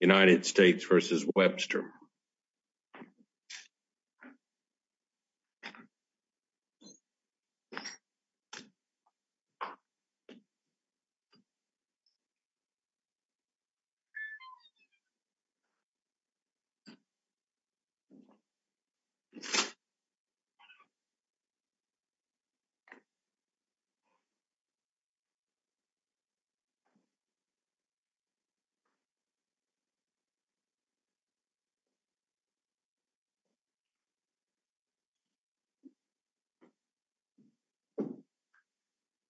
United States v. Webster United States v. Clevon Webster United States v. Clevon Webster United States v. Clevon Webster United States v. Clevon Webster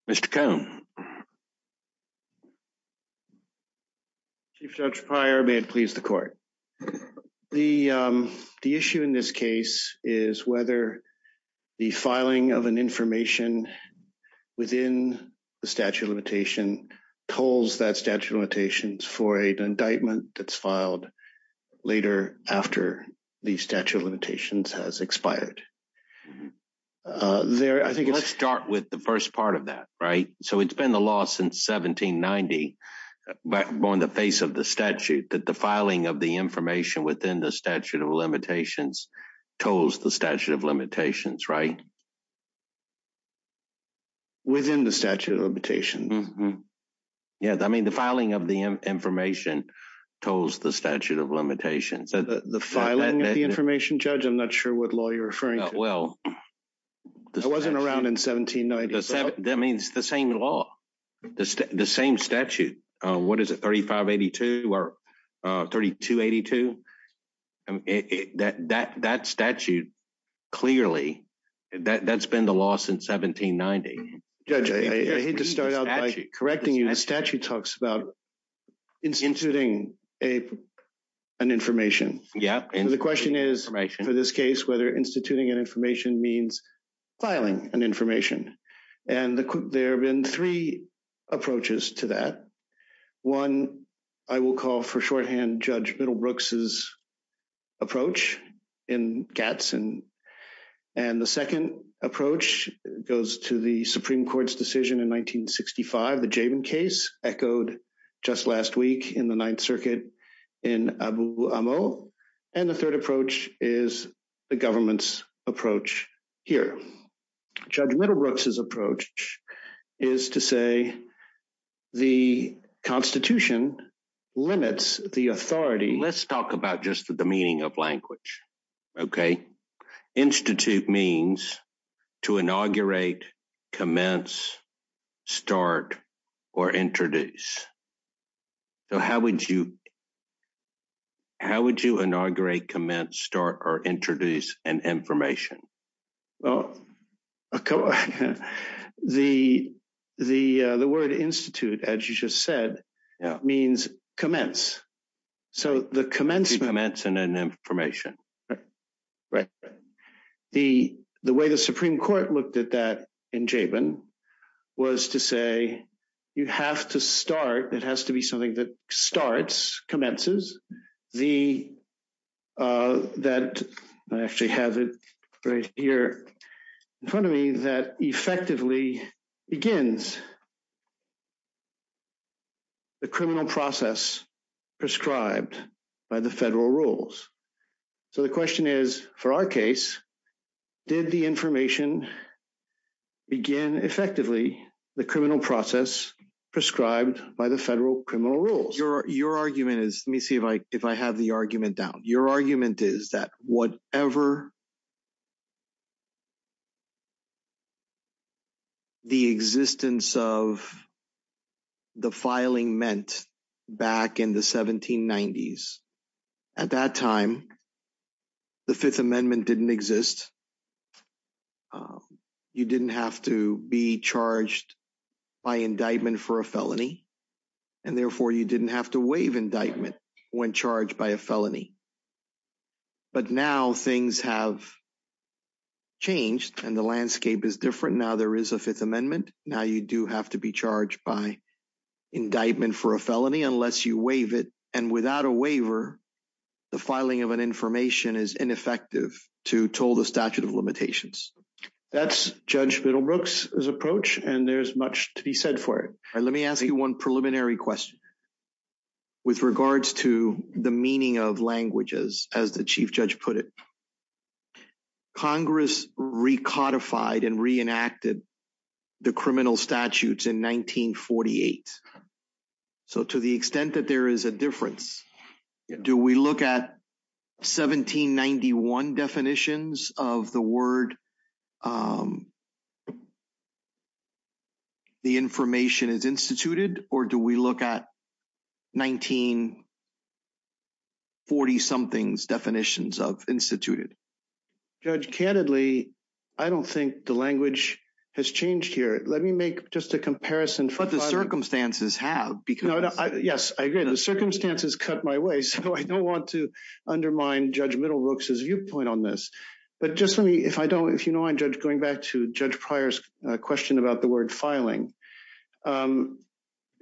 A 대표 of the Governor's schools. judge that's filed later after the statute of limitations has expired. Let's start with the first part of that. It's been in the law since 1790 on the face of the statute that the filing of the information within the statute of limitations tolls the statute of limitations, right? Within the statute of limitations. Yeah, I mean the filing of the information tolls the statute of limitations. The filing of the information? Judge, I'm not sure what law you're referring to. It wasn't around in 1790. That means the same law. The same statute. What is it, 3582? Or 3282? That statute, clearly, that's been the law since 1790. Judge, I hate to start out by correcting you. The statute talks about instituting an information. The question is, for this case, whether instituting an information means filing an information. And there have been three approaches to that. One, I will call for shorthand Judge Middlebrooks' approach in Katz. And the second approach goes to the Supreme Court's decision in 1965, the Jabin case, echoed just last week in the Ninth Circuit in Abu Amo. And the third approach is the government's approach here. Judge Middlebrooks' approach is to say the Constitution limits the authority. Let's talk about just the meaning of language, okay? Institute means to inaugurate, commence, start, or introduce. So how would you how would you inaugurate, commence, start, or introduce an information? the word institute, as you just said, means commence. So the commencement... To commence an information. Right. The way the Supreme Court looked at that in Jabin was to say you have to start, it has to be something that starts, commences, the... that... I actually have it right here in front of me, that effectively begins the criminal process prescribed by the federal rules. So the question is, for our case, did the information begin effectively the criminal process prescribed by the federal criminal rules? Your argument is, let me see if I have the argument down. Your argument is that whatever the existence of the filing meant back in the 1790s at that time the Fifth Amendment didn't exist. You didn't have to be charged by indictment for a felony. And therefore you didn't have to waive indictment when charged by a felony. But now things have changed and the landscape is different. Now there is a Fifth Amendment. Now you do have to be charged by indictment for a felony unless you waive it. And without a waiver, the filing of an information is ineffective to toll the statute of limitations. That's Judge Middlebrooks' approach and there's much to be said for it. Let me ask you one preliminary question with regards to the meaning of languages, as the Chief Judge put it. Congress recodified and reenacted the criminal statutes in 1948. So to the extent that there is a difference do we look at 1791 definitions of the word the information is instituted or do we look at 1940-something definitions of instituted? Judge, candidly, I don't think the language has changed here. Let me make just a comparison But the circumstances have. Yes, I agree. The circumstances cut my way so I don't want to undermine Judge Middlebrooks' viewpoint on this. Going back to Judge Pryor's question about the word filing.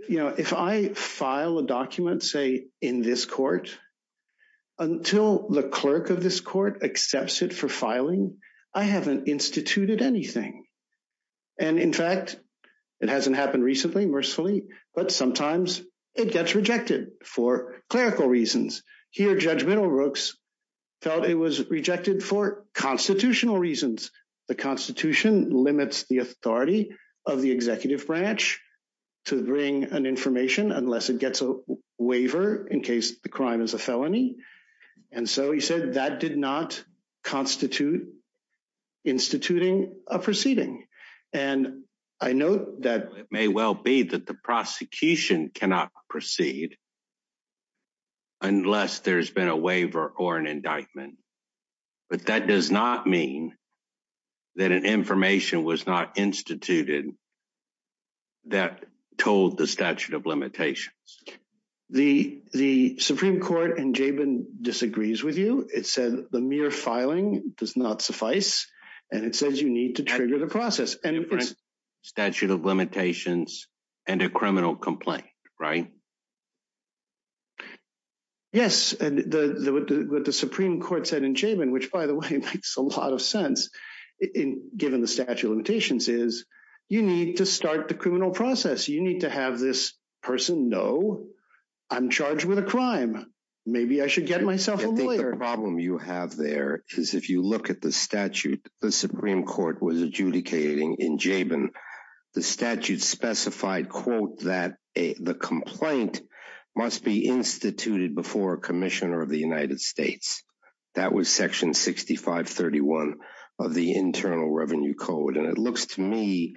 If I file a document, say in this court, until the clerk of this court accepts it for filing I haven't instituted anything. And in fact, it hasn't happened recently, mercifully, but sometimes it gets rejected for clerical reasons. Here Judge Middlebrooks felt it was rejected for constitutional reasons. The Constitution limits the authority of the executive branch to bring an information unless it gets a waiver in case the crime is a felony. And so he said that did not constitute instituting a proceeding. And I note that it may well be that the prosecution cannot proceed unless there's been a waiver or an indictment. But that does not mean that an information was not instituted that told the statute of limitations. The Supreme Court in Jabin disagrees with you. It said the mere filing does not suffice and it says you need to trigger the process. Statute of limitations and a criminal complaint, right? Yes. What the Supreme Court said in Jabin, which by the way makes a lot of sense given the statute of limitations is you need to start the criminal process. You need to have this person know I'm charged with a crime. Maybe I should get myself a lawyer. The other problem you have there is if you look at the statute the Supreme Court was adjudicating in Jabin. The statute specified that the complaint must be instituted before a Commissioner of the United States. That was section 6531 of the Internal Revenue Code. And it looks to me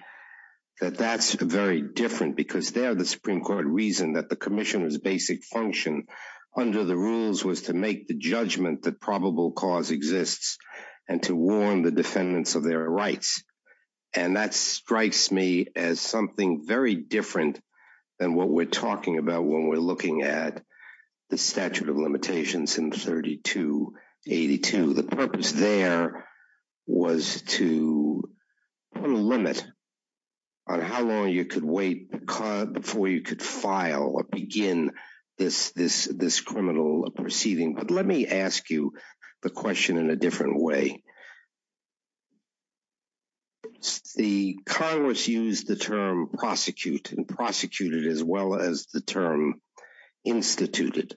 that that's very different because there the Supreme Court reasoned that the Commissioner's basic function under the rules was to make the judgment that probable cause exists and to warn the defendants of their rights. And that strikes me as something very different than what we're talking about when we're looking at the statute of limitations in 3282. The purpose there was to put a limit on how long you could wait before you could file or begin this criminal proceeding. But let me ask you the question in a different way. The Congress used the term prosecute and prosecuted as well as the term instituted.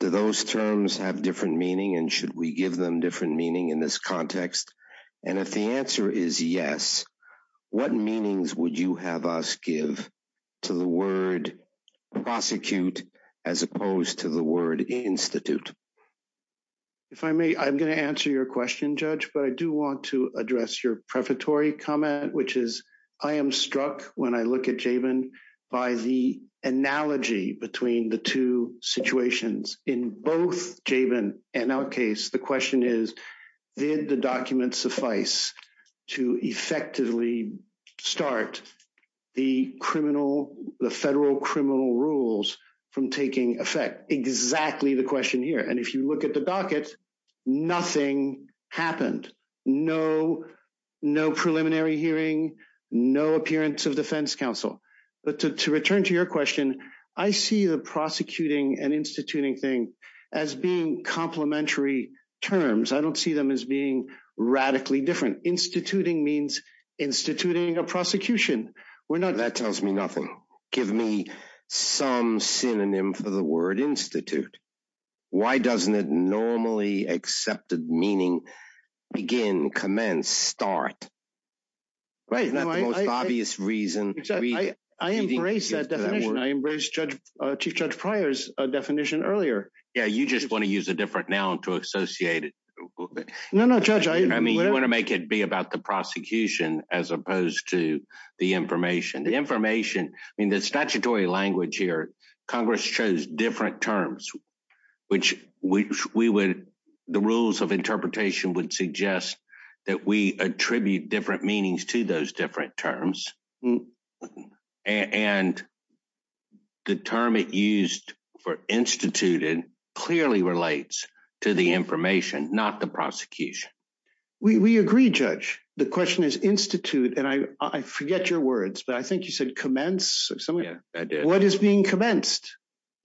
Do those terms have different meaning and should we give them different meaning in this context? And if the answer is yes what meanings would you have us give to the word prosecute as opposed to the word institute? If I may, I'm going to answer your question Judge, but I do want to address your prefatory comment which is I am struck when I look at JAVIN by the analogy between the two situations in both JAVIN and our case. The question is did the document suffice to effectively start the criminal the federal criminal rules from taking effect. Exactly the question here. And if you look at the docket nothing happened. No preliminary hearing no appearance of defense counsel. But to return to your question I see the prosecuting and instituting thing as being complementary terms. I don't see them as being radically different. Instituting means instituting a prosecution. That tells me nothing. Give me some synonym for the word institute. Why doesn't it normally accepted meaning begin, commence, start? Right. I embrace that definition. I embrace Chief Judge Pryor's definition earlier. Yeah, you just want to use a different noun to associate it. No, no Judge. I mean you want to make it be about the prosecution as opposed to the information. The information in the statutory language here Congress chose different terms which the rules of interpretation would suggest that we attribute different meanings to those different terms and the term it used for instituting clearly relates to the information not the prosecution. We agree Judge. The question is I forget your words but I think you said commence. What is being commenced?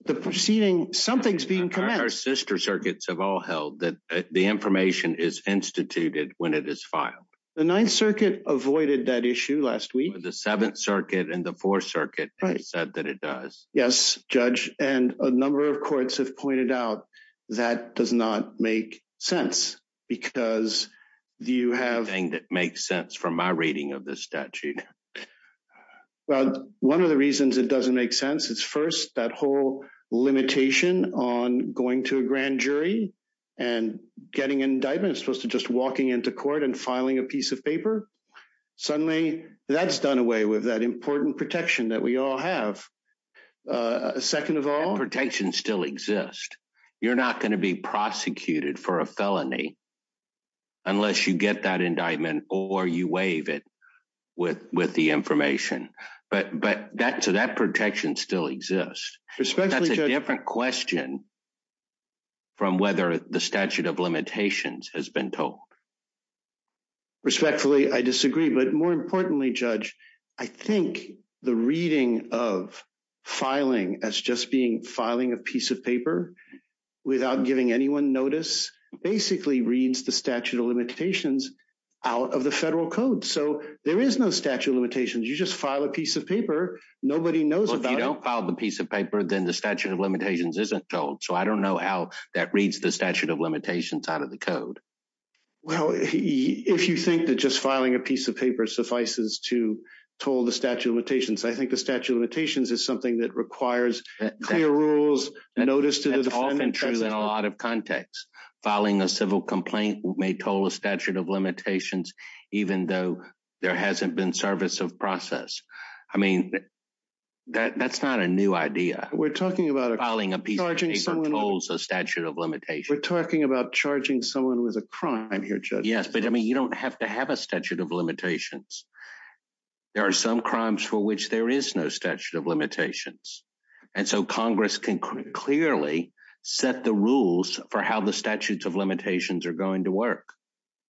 Something's being commenced. Our sister circuits have all held that the information is instituted when it is filed. The 9th Circuit avoided that issue last week. The 7th Circuit and the 4th Circuit said that it does. Yes Judge and a number of courts have pointed out that does not make sense because you have said something that makes sense from my reading of this statute. One of the reasons it doesn't make sense is first that whole limitation on going to a grand jury and getting an indictment as opposed to just walking into court and filing a piece of paper. Suddenly that's done away with that important protection that we all have. Protection still exists. You're not going to be prosecuted for a felony unless you get that indictment or you waive it with the information. That protection still exists. That's a different question from whether the statute of limitations has been told. Respectfully I disagree but more importantly Judge I think the reading of filing as just being filing a piece of paper without giving anyone notice basically reads the statute of limitations out of the federal code. There is no statute of limitations. You just file a piece of paper. Nobody knows about it. If you don't file the piece of paper then the statute of limitations isn't told. I don't know how that reads the statute of limitations out of the code. If you think that just filing a piece of paper suffices to toll the statute of limitations. I think the statute of limitations is something that requires clear rules, notice to the defendant. That's often true in a lot of contexts. Filing a civil complaint may toll a statute of limitations even though there hasn't been service of process. That's not a new idea. Filing a piece of paper tolls a statute of limitations. We're talking about charging someone who is a crime here, Judge. You don't have to have a statute of limitations. There are some crimes for which there is no statute of limitations. Congress can clearly set the rules for how the statutes of limitations are going to work.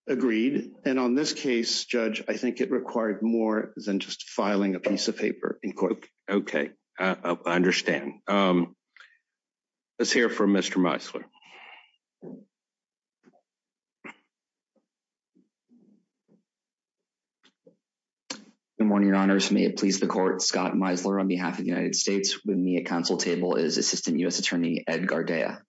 Agreed. On this case, Judge, I think it required more than just filing a piece of paper. I understand. Let's hear from Mr. Meisler. Good morning, Your Honors. May it please the Court, Scott Meisler on behalf of the United States. With me at council table is Assistant U.S. Attorney Ed Gardea.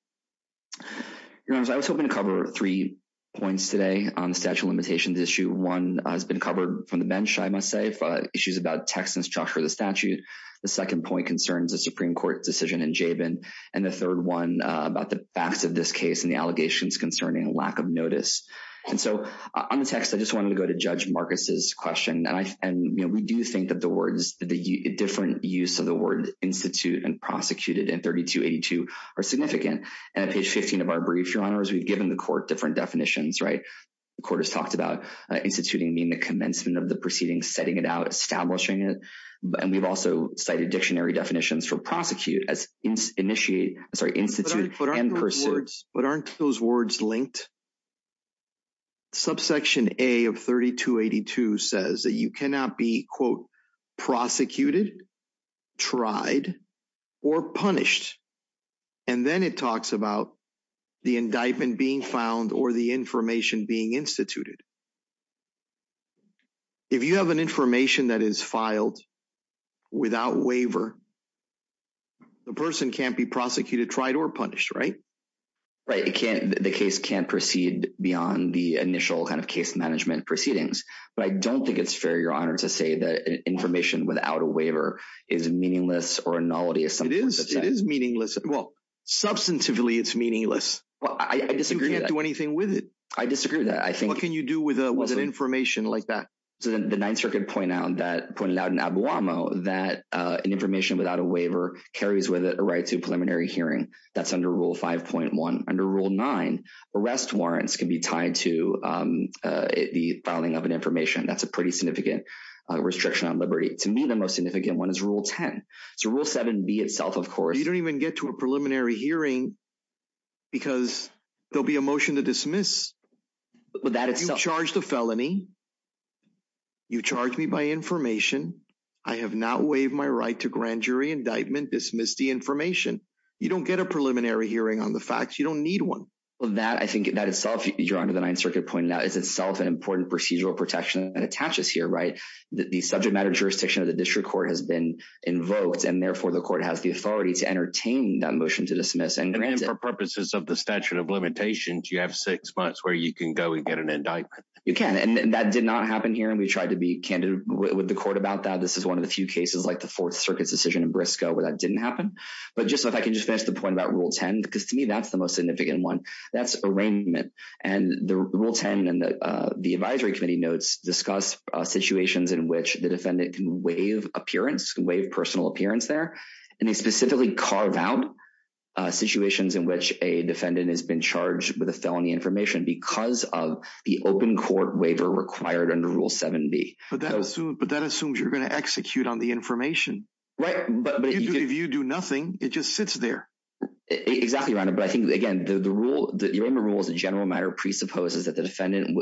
Your Honors, I was hoping to cover three points today on the statute of limitations issue. One has been covered from the bench, I must say. Issues about text and structure of the statute. The second point concerns the Supreme Court decision in Jabin. The third one about the facts of this case and the allegations concerning a lack of notice. On the text, I just wanted to go to Judge Marcus' question. We do think that the different use of the word institute and prosecuted in 3282 are significant. On page 15 of our brief, Your Honors, we've given the Court different definitions. The Court has talked about instituting being the commencement of the proceeding, setting it out, establishing it. We've also cited dictionary definitions for prosecute as institute and pursuit. We've cited those words, but aren't those words linked? Subsection A of 3282 says that you cannot be prosecuted, tried, or punished. And then it talks about the indictment being found or the information being instituted. If you have an information that is filed without waiver, the person can't be prosecuted, tried, or punished, right? Right. The case can't proceed beyond the initial case management proceedings. But I don't think it's fair, Your Honor, to say that information without a waiver is meaningless or a novelty. It is meaningless. Well, substantively, it's meaningless. You can't do anything with it. I disagree with that. What can you do with information like that? The Ninth Circuit pointed out in Abuamo that information without a waiver carries with it a right to preliminary hearing. That's under Rule 5.1. Under Rule 9, arrest warrants can be tied to the filing of an information. That's a pretty significant restriction on liberty. To me, the most significant one is Rule 10. So Rule 7b itself, of course... You don't even get to a preliminary hearing because there'll be a motion to dismiss. But that itself... You've charged a felony. You've charged me by information. I have not waived my right to grand jury indictment. Dismissed the information. You don't get a preliminary hearing on the facts. You don't need one. I think that itself, Your Honor, the Ninth Circuit pointed out, is itself an important procedural protection that attaches here, right? The subject matter jurisdiction of the District Court has been invoked, and therefore the Court has the authority to entertain that motion to dismiss and grant it. And for purposes of the statute of limitations, you have six months where you can go and get an indictment. You can. And that did not happen here, and we tried to be candid with the Court about that. This is one of the few cases, like the Fourth Circuit's decision in Briscoe, where that didn't happen. But just so I can finish the point about Rule 10, because to me, that's the most significant one. That's arraignment. And the Rule 10 and the Advisory Committee notes discuss situations in which the defendant can waive appearance, can waive personal appearance there. And they specifically carve out situations in which a defendant has been charged with a felony information because of the in-court waiver required under Rule 7B. But that assumes you're going to execute on the information. Right. But if you do nothing, it just sits there. Exactly, Your Honor. But I think, again, the rule, the arraignment rule as a general matter presupposes that the defendant,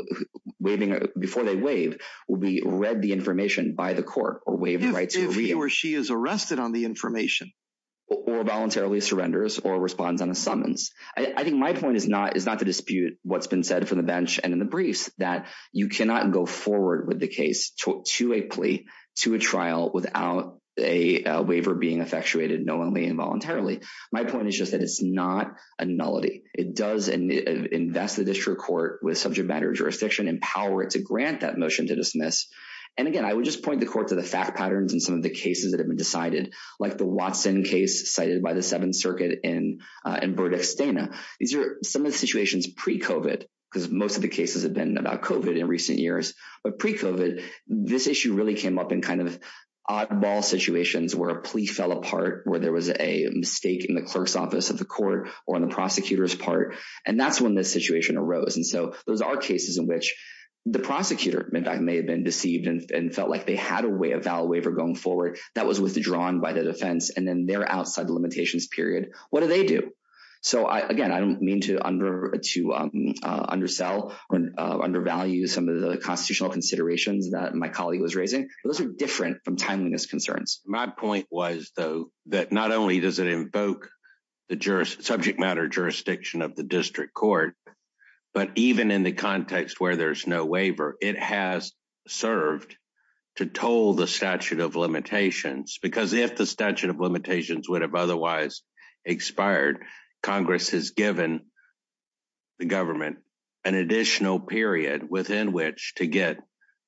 before they waive, will be read the information by the Court or waive the right to read it. If he or she is arrested on the information. Or voluntarily surrenders or responds on a summons. I think my point is not to dispute what's been said from the bench and in the briefs that you cannot go forward with the case to a plea, to a trial without a waiver being effectuated knowingly and voluntarily. My point is just that it's not a nullity. It does invest the District Court with subject matter jurisdiction, empower it to grant that motion to dismiss. And again, I would just point the Court to the fact patterns in some of the cases that have been decided. Like the Watson case cited by the Seventh Circuit in Burdick-Stana. These are some of the situations pre-COVID because most of the cases have been about COVID in recent years. But pre-COVID this issue really came up in kind of oddball situations where a plea fell apart, where there was a mistake in the clerk's office of the Court or in the prosecutor's part. And that's when this situation arose. And so those are cases in which the prosecutor may have been deceived and felt like they had a way of valid waiver going forward that was withdrawn by the defense and then they're outside the limitations period. What do they do? So again, I don't mean to undersell or undervalue some of the constitutional considerations that my colleague was raising. But those are different from timeliness concerns. My point was though, that not only does it invoke the subject matter jurisdiction of the District Court, but even in the context where there's no waiver, it has served to toll the statute of limitations because if the statute of limitations would have otherwise expired, Congress has given the government an additional period within which to get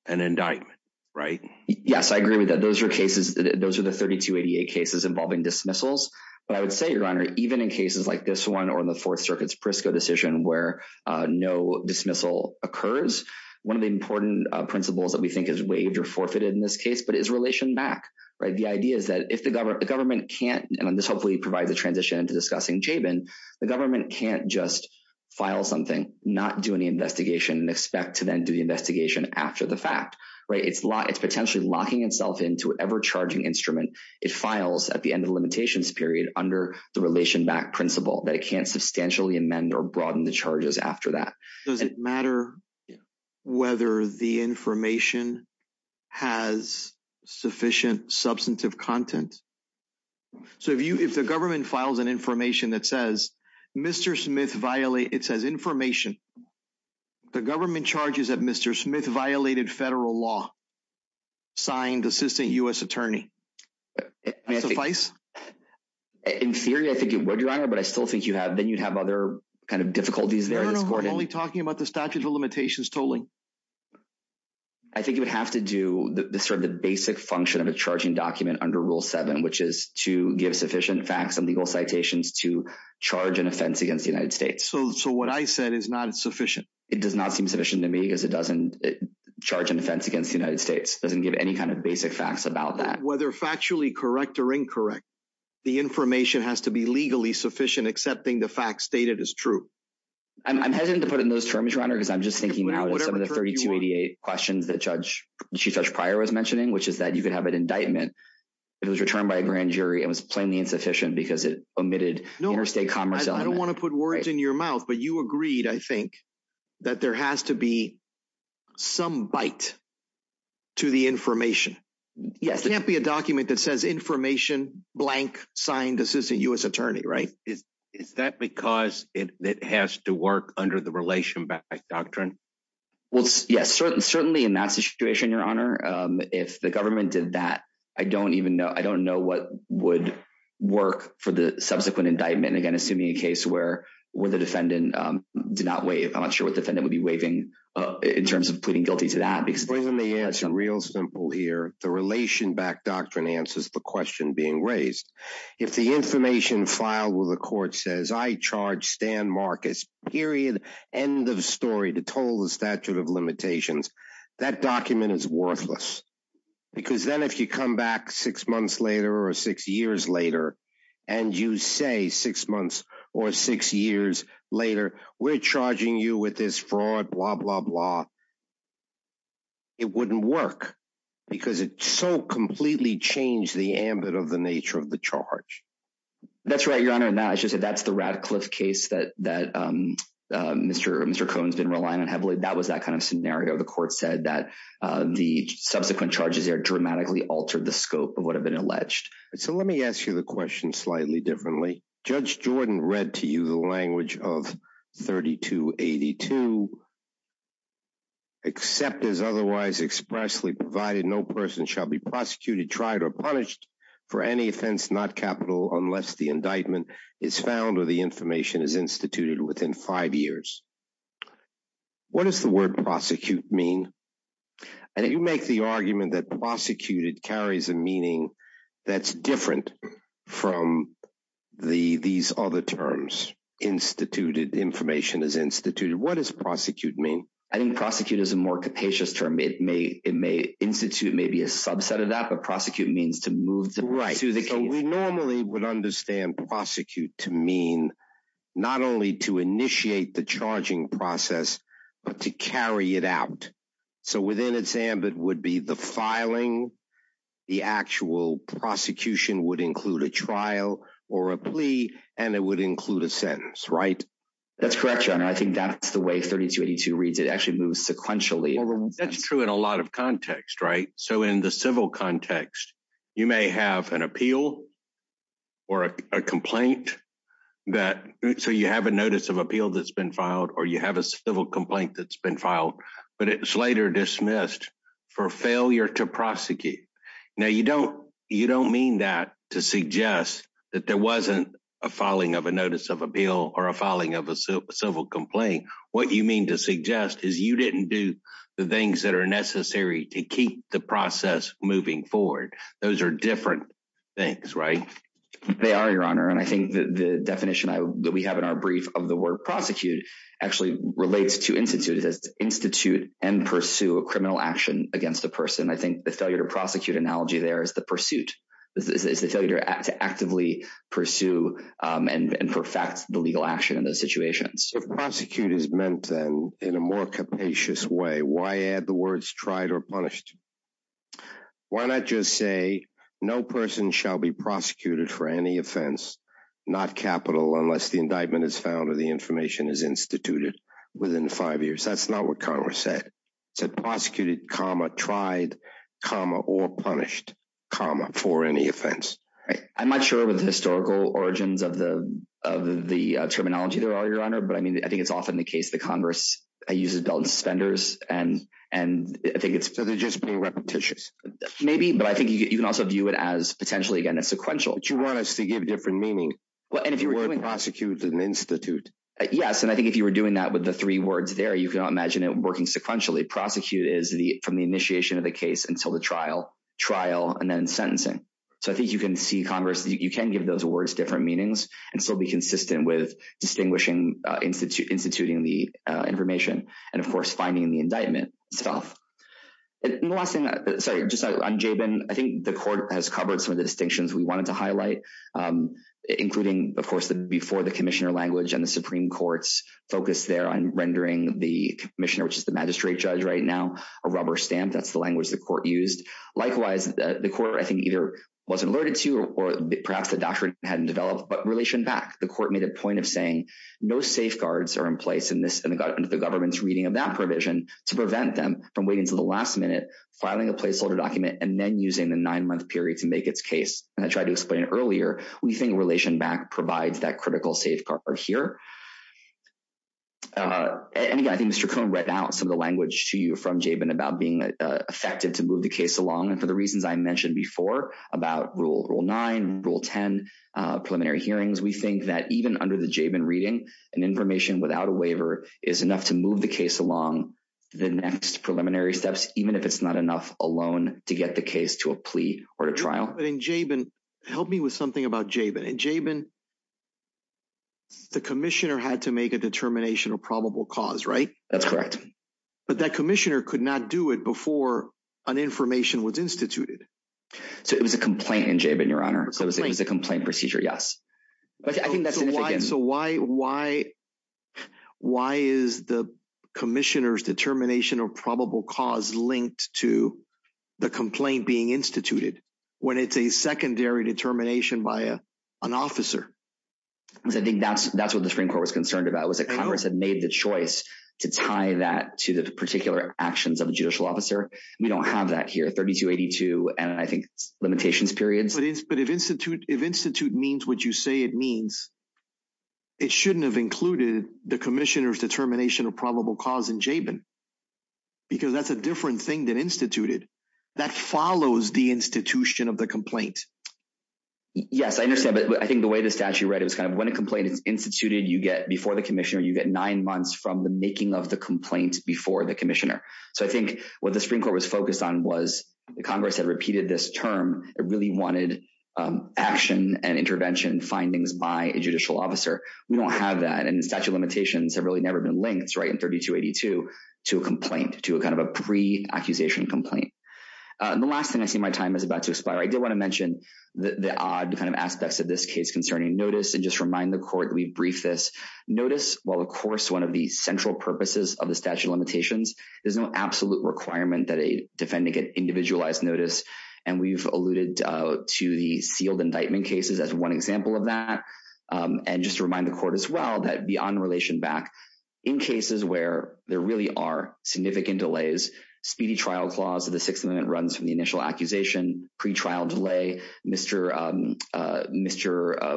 an indictment, right? Yes, I agree with that. Those are cases, those are the 3288 cases involving dismissals. But I would say, Your Honor, even in cases like this one or in the Fourth Circuit's Prisco decision where no dismissal occurs, one of the important principles that we think is waived or forfeited in this case, but it's relation back, right? The idea is that if the government can't and this hopefully provides a transition into discussing Chabin, the government can't just file something, not do any investigation and expect to then do the investigation after the fact, right? It's potentially locking itself into whatever charging instrument it files at the end of the limitations period under the relation back principle that it can't substantially amend or broaden the charges after that. Does it matter whether the information has sufficient substantive content? So if the government files an information that says, Mr. Smith violated, it says information, the government charges that Mr. Smith violated federal law signed assistant U.S. attorney, does that suffice? In theory, I think it would, Your Honor, but I still think you'd have other kind of difficulties there. I'm only talking about the statute of limitations tolling. I think you would have to do the basic function of a charging document under Rule 7, which is to give sufficient facts and legal citations to charge an offense against the United States. So what I said is not sufficient. It does not seem sufficient to me because it doesn't charge an offense against the United States. It doesn't give any kind of basic facts about that. Whether factually correct or incorrect, the information has to be legally sufficient accepting the facts stated as true. I'm hesitant to put it in those terms, Your Honor, because I'm just thinking of some of the 3288 questions that Chief Judge Pryor was mentioning, which is that you could have an indictment if it was returned by a grand jury and was plainly insufficient because it omitted interstate commerce element. I don't want to put words in your mouth, but you agreed, I think, that there has to be some bite to the information. It can't be a document that says information blank signed assistant U.S. attorney, right? Is that because it has to work under the relation back doctrine? Yes, certainly in that situation, Your Honor. If the government did that, I don't even know. I don't know what would work for the subsequent indictment. Again, assuming a case where the defendant did not waive. I'm not sure what defendant would be waiving in terms of pleading guilty to that. Real simple here. The relation back doctrine answers the question being raised. If the information filed with the court says, I charge Stan Marcus, period, end of story, to toll the statute of limitations, that document is worthless. Because then if you come back six months later or six years later and you say six months or six years later, we're charging you with this fraud, blah, blah, blah, it wouldn't work because it so completely changed the ambit of the nature of the charge. That's right, Your Honor. That's the Radcliffe case that Mr. Cohen's been relying on heavily. That was that kind of scenario. The court said that the subsequent charges there dramatically altered the scope of what had been alleged. So let me ask you the question slightly differently. Judge Jordan read to you the language of 3282, except as otherwise expressly provided no person shall be prosecuted, tried, or punished for any offense, not capital, unless the indictment is found or the information is instituted within five years. What does the word prosecute mean? And you make the argument that prosecuted carries a meaning that's different from these other terms, instituted, information is instituted. What does prosecute mean? I think prosecute is a more capacious term. It may institute maybe a subset of that, but prosecute means to move to the case. Right. So we normally would understand prosecute to mean not only to initiate the charging process, but to carry it out. So within its ambit would be the filing, the actual prosecution would include a trial or a plea, and it would include a sentence, right? That's correct, Your Honor. I think that's the way 3282 reads. It actually moves sequentially. That's true in a lot of context, right? So in the civil context, you may have an appeal or a complaint that, so you have a notice of appeal that's been filed, or you have a civil complaint that's been filed, but it's later dismissed for failure to prosecute. Now you don't mean that to suggest that there wasn't a filing of a notice of appeal or a filing of a civil complaint. What you mean to suggest is you didn't do the things that are necessary to keep the process moving forward. Those are different things, right? They are, Your Honor, and I think the definition that we have in our brief of the word prosecute actually relates to institute. It says institute and pursue a criminal action against a person. I think the failure to prosecute analogy there is the pursuit. It's the failure to actively pursue and perfect the legal action in those situations. If prosecute is meant, then, in a more capacious way, why add the words tried or punished? Why not just say no person shall be prosecuted for any offense, not capital, unless the indictment is found or the information is instituted within five years? That's not what Congress said. It said prosecuted, comma, tried, comma, or punished, comma, for any offense. I'm not sure with the historical origins of the terminology there, Your Honor, but I think it's often the case that Congress uses suspenders and I think it's... So they're just being repetitious? Maybe, but I think you can also view it as potentially, again, a sequential. But you want us to give different meaning. The word prosecute is an institute. Yes, and I think if you were doing that with the three words there, you cannot imagine it working sequentially. Prosecute is from the initiation of the case until the trial, trial and then sentencing. So I think you can see Congress, you can give those words different meanings and still be consistent with distinguishing... instituting the information and, of course, finding the indictment itself. And the last thing... Sorry, just on Jabin, I think the Court has covered some of the distinctions we wanted to highlight, including, of course, the before the commissioner language and the Supreme Court's focus there on rendering the commissioner, which is the magistrate judge right now, a rubber stamp. That's the language the Court used. Likewise, the Court, I think, either wasn't alerted to, or perhaps the doctrine hadn't developed, but Relation Back, the Court made a point of saying no safeguards are in place in the government's reading of that provision to prevent them from waiting until the last minute, filing a placeholder document, and then using the nine-month period to make its case. And I tried to explain earlier, we think Relation Back provides that critical safeguard here. And again, I think Mr. Cohen read out some of the language to you from Jabin about being effective to move the case along, and for the reasons I mentioned before about Rule 9, Rule 10, preliminary hearings, we think that even under the Jabin reading, an information without a waiver is enough to move the case along the next preliminary steps, even if it's not enough alone to get the case to a plea or a trial. But in Jabin, help me with something about Jabin. In Jabin, the commissioner had to make a determination of probable cause, right? That's correct. But that commissioner could not do it before an information was instituted. So it was a complaint in Jabin, Your Honor. So it was a complaint procedure, yes. But I think that's significant. So why is the commissioner's determination of probable cause linked to the complaint being instituted when it's a secondary determination by an officer? Because I think that's what the Supreme Court was concerned about, was that Congress had made the choice to tie that to the particular actions of a judicial officer. We don't have that here, 3282, and I think it's limitations period. But if institute means what you say it means, it shouldn't have included the commissioner's determination of probable cause in Jabin. Because that's a different thing than instituted. That follows the institution of the complaint. Yes, I understand, but I think the way the statute read it was kind of, when a complaint is instituted, you get, before the commissioner, you get nine months from the making of the complaint before the commissioner. So I think what the Supreme Court was focused on was, Congress had repeated this term, it really wanted action and intervention findings by a judicial officer. We don't have that, and statute of limitations have really never been linked, right, in 3282 to a complaint, to a kind of a pre- accusation complaint. The last thing, I see my time is about to expire. I did want to mention the odd kind of aspects of this case concerning notice, and just remind the Court that we briefed this. Notice while of course one of the central purposes of the statute of limitations, there's no absolute requirement that a defendant get individualized notice, and we've alluded to the sealed indictment cases as one example of that. And just to remind the Court as well that beyond relation back, in cases where there really are significant delays, speedy trial clause of the Sixth Amendment runs from the initial accusation, pre-trial delay, Mr.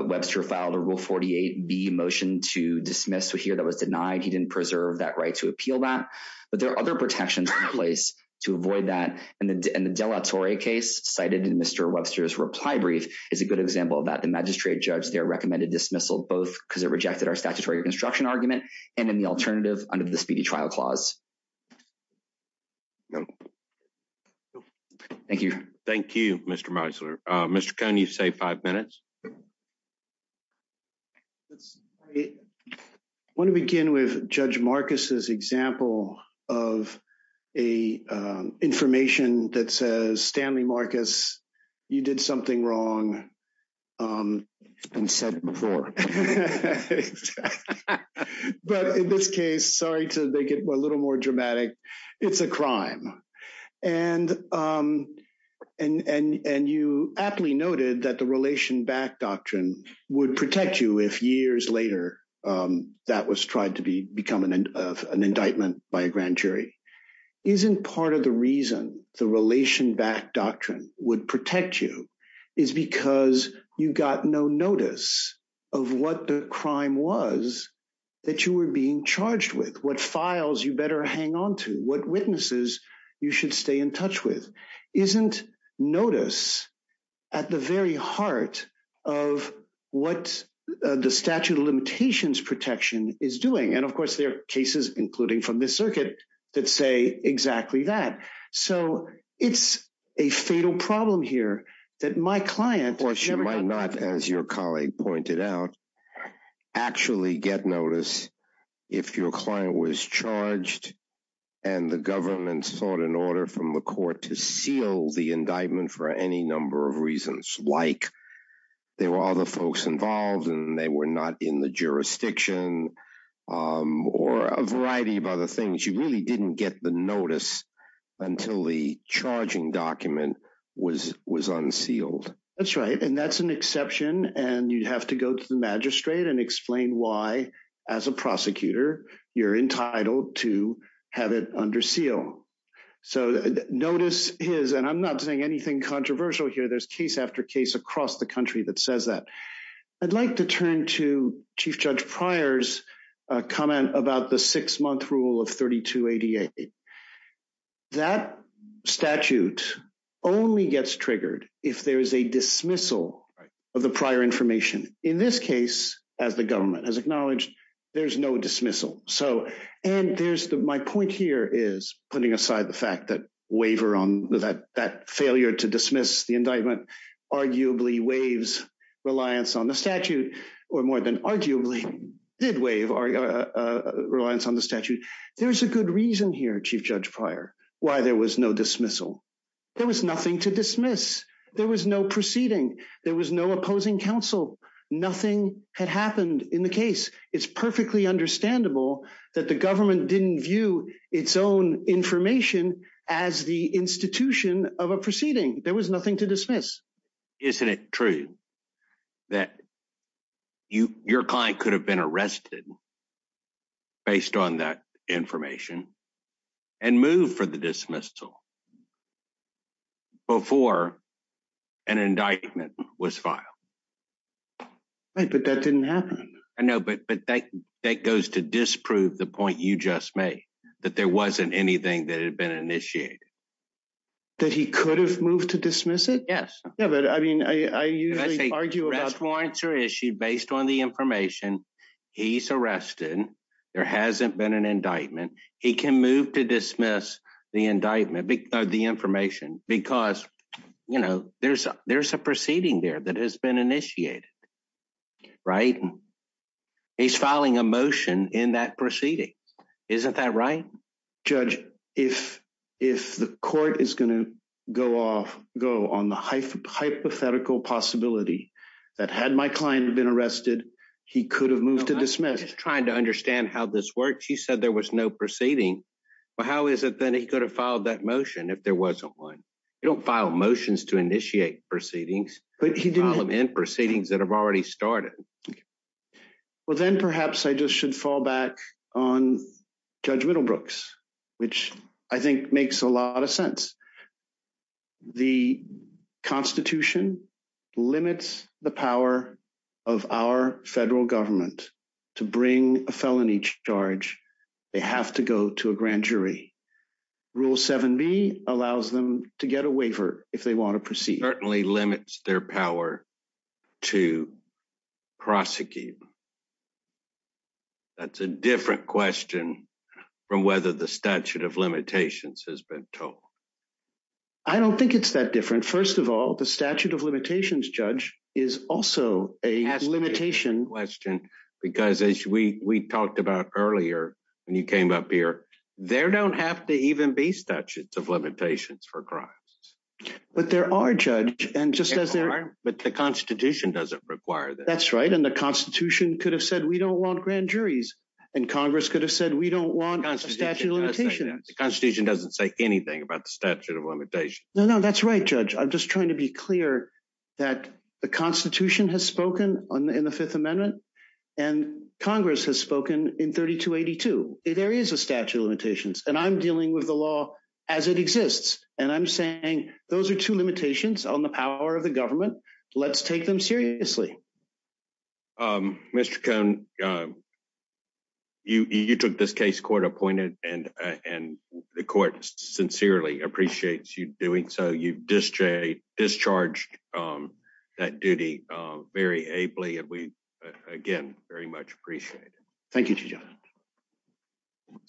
Webster filed a Rule 48B motion to dismiss here that was denied. He didn't preserve that right to appeal that, but there are other protections in place to avoid that, and the Della Torre case, cited in Mr. Webster's reply brief, is a good example of that. The magistrate judge there recommended dismissal, both because it rejected our statutory reconstruction argument, and in the alternative, under the speedy trial clause. Thank you. Thank you, Mr. Meisler. Mr. Cohn, you've saved five minutes. Let's... I want to begin with Judge Marcus's example of a information that says, Stanley Marcus, you did something wrong and said before. But in this case, sorry to make it a little more dramatic, it's a crime. And you aptly noted that the relation back doctrine would protect you if years later that was tried to become an indictment by a grand jury. Isn't part of the reason the relation back doctrine would protect you is because you got no notice of what the crime was that you were being charged with? What files you better hang on to? What witnesses you should stay in touch with? Isn't notice at the very heart of what the statute of limitations protection is doing? And of course, there are cases including from this circuit that say exactly that. So it's a fatal problem here that my client... Of course, you might not, as your colleague pointed out, actually get notice if your client was charged and the government sought an order from the court to seal the indictment for any number of reasons. Like there were other folks involved and they were not in the jurisdiction or a variety of other things. You really didn't get the notice until the charging document was unsealed. That's right. And that's an exception and you'd have to go to the magistrate and explain why as a prosecutor you're entitled to have it under seal. So notice is... And I'm not saying anything controversial here. There's case after case across the country that says that. I'd like to turn to Chief Judge Pryor's comment about the six-month rule of 3288. That statute only gets triggered if there is a dismissal of the prior information. In this case, as the government has acknowledged, there's no dismissal. So... And there's my point here is, putting aside the fact that waiver on that failure to dismiss the indictment arguably waives reliance on the statute or more than arguably did waive reliance on the statute. There's a good reason here, Chief Judge Pryor, why there was no dismissal. There was nothing to dismiss. There was no proceeding. There was no opposing counsel. Nothing had happened in the case. It's perfectly understandable that the government didn't view its own information as the institution of a proceeding. There was nothing to dismiss. Isn't it true that your client could have been arrested based on that information and moved for the dismissal before an indictment was filed? But that didn't happen. I know, but that goes to disprove the point you just made. That there wasn't anything that had been initiated. That he could have moved to dismiss it? Yes. Yeah, but I mean, I usually argue about... Rest warrants are issued based on the information. He's arrested. There hasn't been an indictment. He can move to dismiss the indictment or the information because you know, there's a proceeding there that has been initiated. Right? He's filing a motion in that proceeding. Isn't that right? Judge, if the court is going to go on the hypothetical possibility that had my client been arrested, he could have moved to dismiss. I'm just trying to understand how this works. You said there was no proceeding, but how is it that he could have filed that motion if there wasn't one? You don't file motions to initiate proceedings. File them in for proceedings that have already started. Well, then perhaps I just should fall back on Judge Middlebrooks, which I think makes a lot of sense. The Constitution limits the power of our federal government to bring a felony charge. They have to go to a grand jury. Rule 7b allows them to get a waiver if they want to proceed. It certainly limits their power to prosecute. That's a different question from whether the statute of limitations has been told. I don't think it's that different. First of all, the statute of limitations, Judge, is also a limitation. That's a different question because as we talked about earlier when you came up here, there don't have to even be statutes of limitations for crimes. But there are, Judge. But the Constitution doesn't require them. That's right, and the Constitution could have said, we don't want grand juries. And Congress could have said, we don't want a statute of limitations. The Constitution doesn't say anything about the statute of limitations. No, no, that's right, Judge. I'm just trying to be clear that the Constitution has spoken in the Fifth Amendment, and Congress has spoken in 3282. There is a statute of limitations, and I'm dealing with the law as it exists, and I'm saying those are two limitations on the power of the government. Let's take them seriously. Mr. Cohn, you took this case court-appointed, and the court sincerely appreciates you doing so. You discharged that duty very ably, and we, again, very much appreciate it. Thank you, Judge. Thank you.